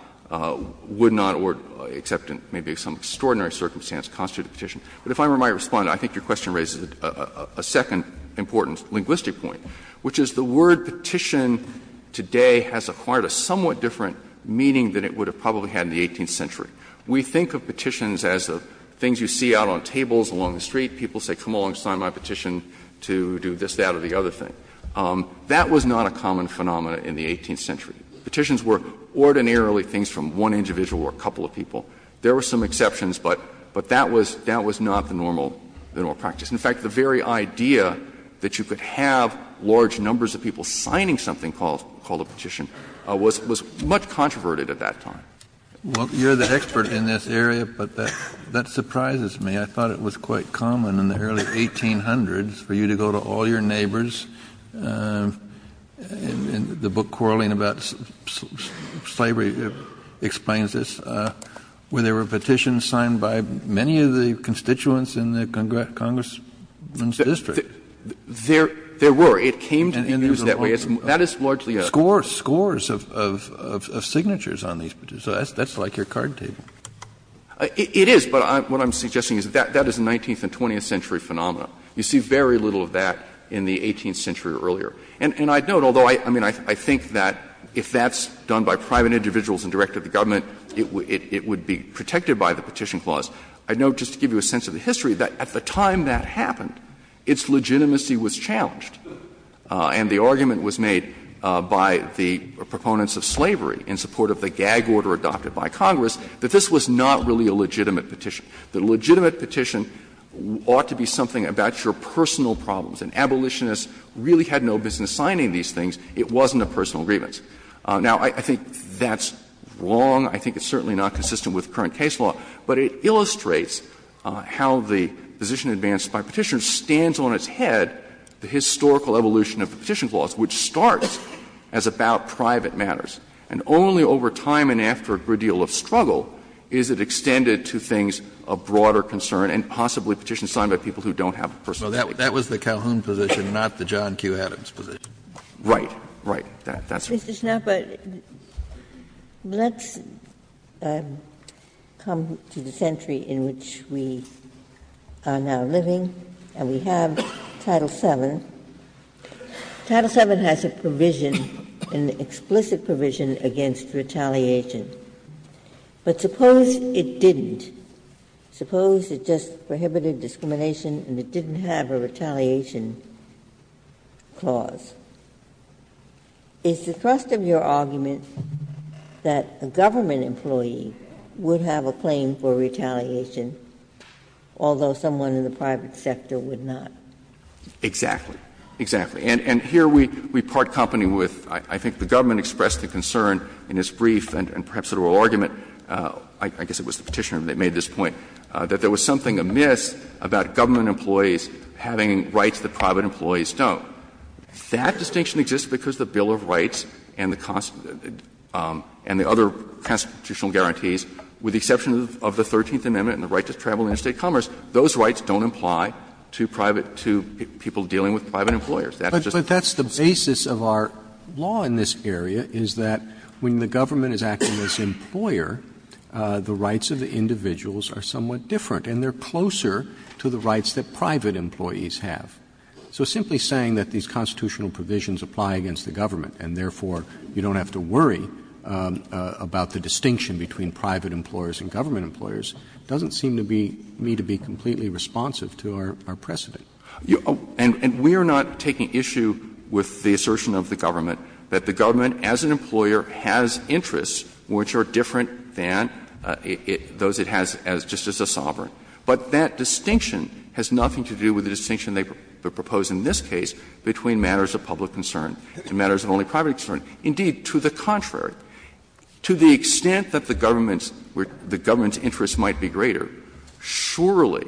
would not, except in maybe some extraordinary circumstance, constitute a petition. But if I were my Respondent, I think your question raises a second important linguistic point, which is the word petition today has acquired a somewhat different meaning than it would have probably had in the 18th century. We think of petitions as the things you see out on tables along the street. People say, come along, sign my petition to do this, that, or the other thing. That was not a common phenomena in the 18th century. Petitions were ordinarily things from one individual or a couple of people. There were some exceptions, but that was not the normal practice. In fact, the very idea that you could have large numbers of people signing something called a petition was much controverted at that time. Kennedy, you're the expert in this area, but that surprises me. I thought it was quite common in the early 1800s for you to go to all your neighbors and the book quarreling about slavery explains this, where there were petitions signed by many of the constituents in the Congressmen's district. There were. It came to be used that way. That is largely a. Scores of signatures on these petitions. That's like your card table. It is, but what I'm suggesting is that that is a 19th and 20th century phenomena. You see very little of that in the 18th century or earlier. And I note, although I think that if that's done by private individuals and directed to the government, it would be protected by the Petition Clause, I note, just to give you a sense of the history, that at the time that happened, its legitimacy was challenged. And the argument was made by the proponents of slavery in support of the gag order adopted by Congress that this was not really a legitimate petition. The legitimate petition ought to be something about your personal problems. And abolitionists really had no business signing these things. It wasn't a personal grievance. Now, I think that's wrong. I think it's certainly not consistent with current case law. But it illustrates how the position advanced by Petitioners stands on its head, the historical evolution of the Petition Clause, which starts as about private matters. And only over time and after a great deal of struggle is it extended to things of broader concern and possibly petitions signed by people who don't have a personal grievance. Kennedy, that was the Calhoun position, not the John Q. Adams position. Right. Right. That's right. Ginsburg. Let's come to the century in which we are now living, and we have Title VII. Title VII has a provision, an explicit provision, against retaliation. But suppose it didn't. Suppose it just prohibited discrimination and it didn't have a retaliation clause. Is the thrust of your argument that a government employee would have a claim for retaliation, although someone in the private sector would not? Exactly. Exactly. And here we part company with, I think the government expressed a concern in its brief and perhaps a real argument, I guess it was the Petitioner that made this point, that there was something amiss about government employees having rights that private employees don't. That distinction exists because the Bill of Rights and the other constitutional guarantees, with the exception of the Thirteenth Amendment and the right to travel and interstate commerce, those rights don't apply to private to people dealing with private employers. But that's the basis of our law in this area, is that when the government is acting as an employer, the rights of the individuals are somewhat different, and they are closer to the rights that private employees have. So simply saying that these constitutional provisions apply against the government and, therefore, you don't have to worry about the distinction between private employers and government employers doesn't seem to be me to be completely responsive to our precedent. And we are not taking issue with the assertion of the government that the government as an employer has interests which are different than those it has just as a sovereign. But that distinction has nothing to do with the distinction they propose in this case between matters of public concern and matters of only private concern. Indeed, to the contrary, to the extent that the government's interests might be greater, surely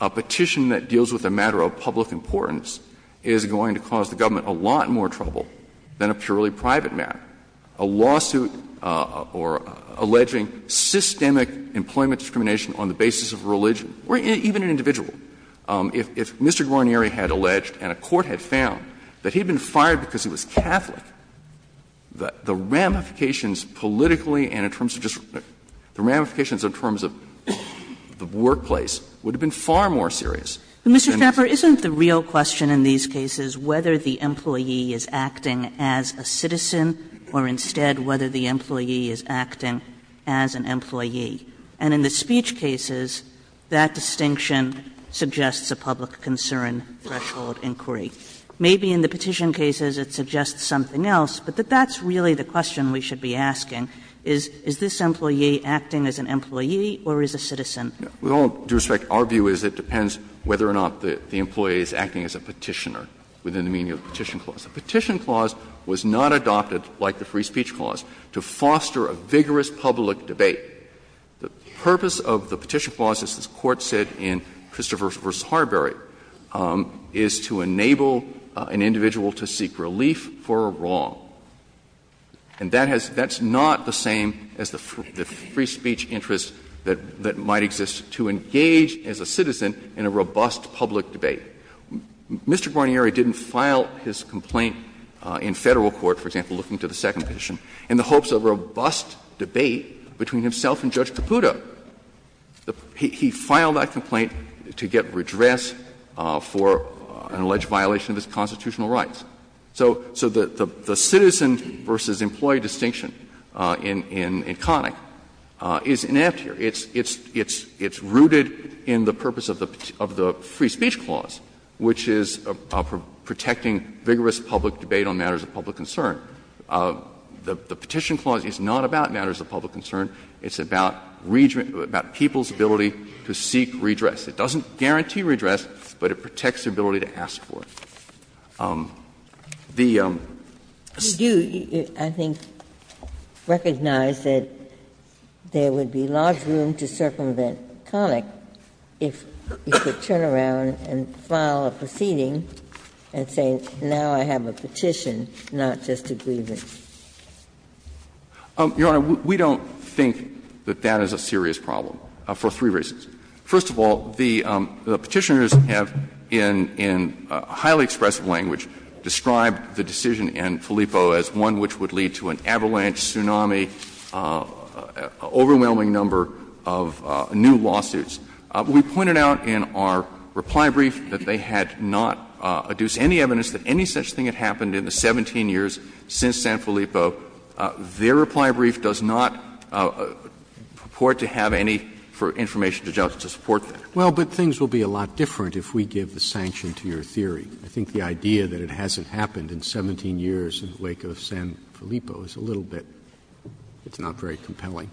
a petition that deals with a matter of public importance is going to cause the government a lot more trouble than a purely private matter. A lawsuit or alleging systemic employment discrimination on the basis of religion, or even an individual. If Mr. Guarnieri had alleged and a court had found that he had been fired because he was Catholic, the ramifications politically and in terms of just the ramifications in terms of the workplace would have been far more serious. Kagan, Mr. Schnapper, isn't the real question in these cases whether the employee is acting as a citizen or, instead, whether the employee is acting as an employee? And in the speech cases, that distinction suggests a public concern threshold inquiry. Maybe in the petition cases it suggests something else, but that that's really the question we should be asking. Is this employee acting as an employee or as a citizen? Schnapper. With all due respect, our view is it depends whether or not the employee is acting as a petitioner within the meaning of the Petition Clause. The Petition Clause was not adopted, like the Free Speech Clause, to foster a vigorous public debate. The purpose of the Petition Clause, as this Court said in Christopher v. Harberry, is to enable an individual to seek relief for a wrong. And that has — that's not the same as the free speech interest that might exist to engage as a citizen in a robust public debate. Mr. Bonieri didn't file his complaint in Federal court, for example, looking to the Second Petition, in the hopes of a robust debate between himself and Judge Caputo. He filed that complaint to get redress for an alleged violation of his constitutional rights. So the citizen versus employee distinction in Connick is inept here. It's rooted in the purpose of the Free Speech Clause, which is protecting vigorous public debate on matters of public concern. The Petition Clause is not about matters of public concern. It's about people's ability to seek redress. It doesn't guarantee redress, but it protects their ability to ask for it. The State of the Union, I think, recognized that there would be large room to circumvent Connick if he could turn around and file a proceeding and say, now I have a petition, not just a grievance. Your Honor, we don't think that that is a serious problem, for three reasons. First of all, the Petitioners have, in highly expressive language, described the decision in Filippo as one which would lead to an avalanche, tsunami, an overwhelming number of new lawsuits. We pointed out in our reply brief that they had not adduced any evidence that any such thing had happened in the 17 years since San Filippo. Their reply brief does not purport to have any information to just support that. Roberts Well, but things will be a lot different if we give the sanction to your theory. I think the idea that it hasn't happened in 17 years in the wake of San Filippo is a little bit – it's not very compelling.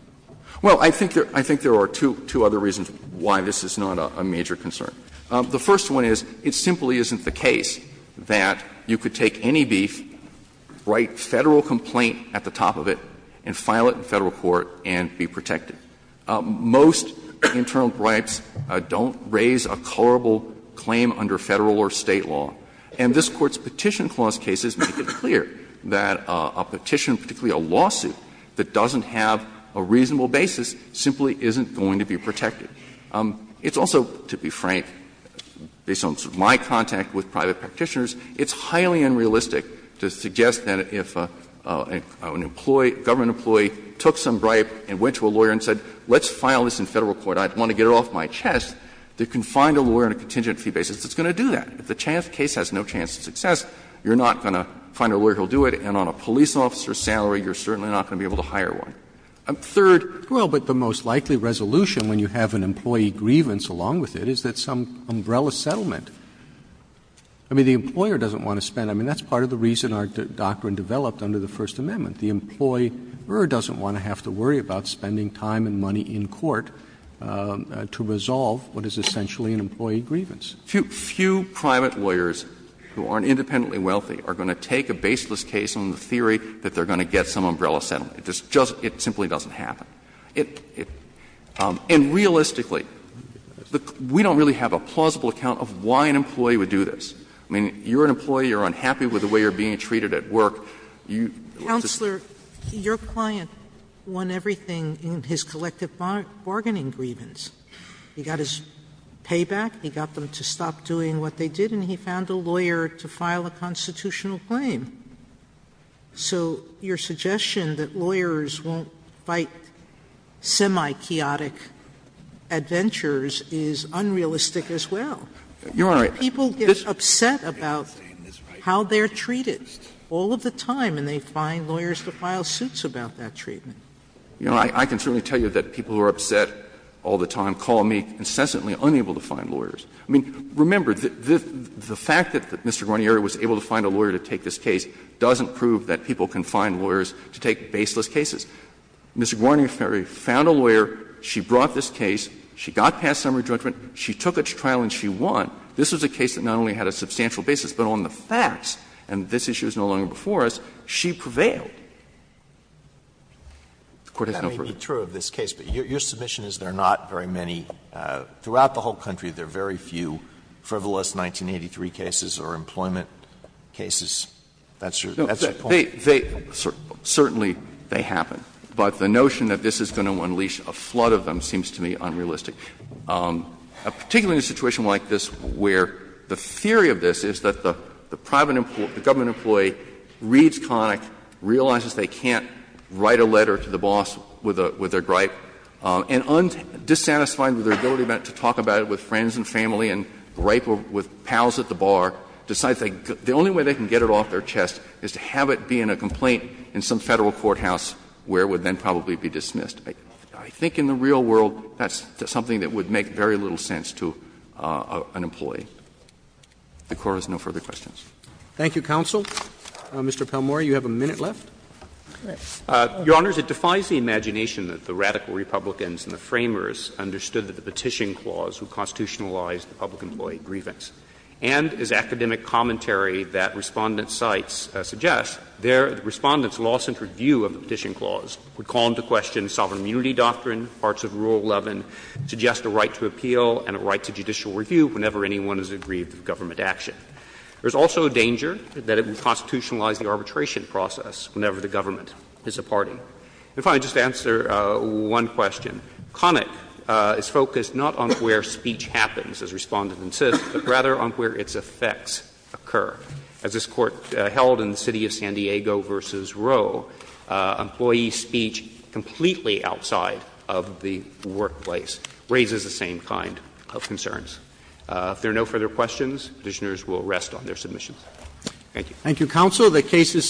Well, I think there are two other reasons why this is not a major concern. The first one is it simply isn't the case that you could take any brief, write Federal complaint at the top of it, and file it in Federal court and be protected. Most internal bribes don't raise a colorable claim under Federal or State law. And this Court's Petition Clause cases make it clear that a petition, particularly a lawsuit, that doesn't have a reasonable basis simply isn't going to be protected. It's also, to be frank, based on my contact with private practitioners, it's highly unrealistic to suggest that if an employee, a government employee, took some bribe and went to a lawyer and said, let's file this in Federal court, I want to get it off my chest, they can find a lawyer on a contingent fee basis. It's going to do that. If the case has no chance of success, you're not going to find a lawyer who will do it, and on a police officer's salary, you're certainly not going to be able to hire one. Third. Roberts. Well, but the most likely resolution when you have an employee grievance along with it is that some umbrella settlement. I mean, the employer doesn't want to spend. I mean, that's part of the reason our doctrine developed under the First Amendment. The employer doesn't want to have to worry about spending time and money in court to resolve what is essentially an employee grievance. Few private lawyers who aren't independently wealthy are going to take a baseless case on the theory that they're going to get some umbrella settlement. It just doesn't happen. And realistically, we don't really have a plausible account of why an employee would do this. I mean, you're an employee, you're unhappy with the way you're being treated at work. You just don't. Sotomayor, your client won everything in his collective bargaining grievance. He got his payback, he got them to stop doing what they did, and he found a lawyer to file a constitutional claim. So your suggestion that lawyers won't fight semi-chaotic adventures is unrealistic as well. People get upset about how they're treated all of the time, and they find lawyers to file suits about that treatment. You know, I can certainly tell you that people who are upset all the time call me incessantly unable to find lawyers. I mean, remember, the fact that Mr. Guarnieri was able to find a lawyer to take this case doesn't prove that people can find lawyers to take baseless cases. Mr. Guarnieri found a lawyer, she brought this case, she got past summary judgment, she took a trial and she won. This was a case that not only had a substantial basis, but on the facts, and this issue is no longer before us, she prevailed. The Court has no proof. Alito, that may be true of this case, but your submission is there are not very many – throughout the whole country, there are very few frivolous 1983 cases or employment cases. That's your point. They – certainly they happen. But the notion that this is going to unleash a flood of them seems to me unrealistic. Particularly in a situation like this where the theory of this is that the private employee, the government employee, reads Connick, realizes they can't write a letter to the boss with their gripe, and, dissatisfied with their ability to talk about it with friends and family and gripe with pals at the bar, decides the only way they can get it off their chest is to have it be in a complaint in some Federal courthouse where it would then probably be dismissed. I think in the real world, that's something that would make very little sense to an employee. If the Court has no further questions. Roberts. Thank you, counsel. Mr. Palmore, you have a minute left. Palmore. Your Honors, it defies the imagination that the radical Republicans and the Framers understood that the Petition Clause would constitutionalize the public employee grievance. And, as academic commentary that Respondent cites suggests, the Respondent's law-centered view of the Petition Clause would call into question the sovereign immunity doctrine, parts of Rule 11, suggest a right to appeal and a right to judicial review whenever anyone is aggrieved of government action. There is also a danger that it would constitutionalize the arbitration process whenever the government is a party. And finally, just to answer one question, Connick is focused not on where speech happens, as Respondent insists, but rather on where its effects occur. As this Court held in the city of San Diego v. Roe, employee speech completely outside of the workplace raises the same kind of concerns. If there are no further questions, Petitioners will rest on their submissions. Thank you. Thank you, counsel. The case is submitted.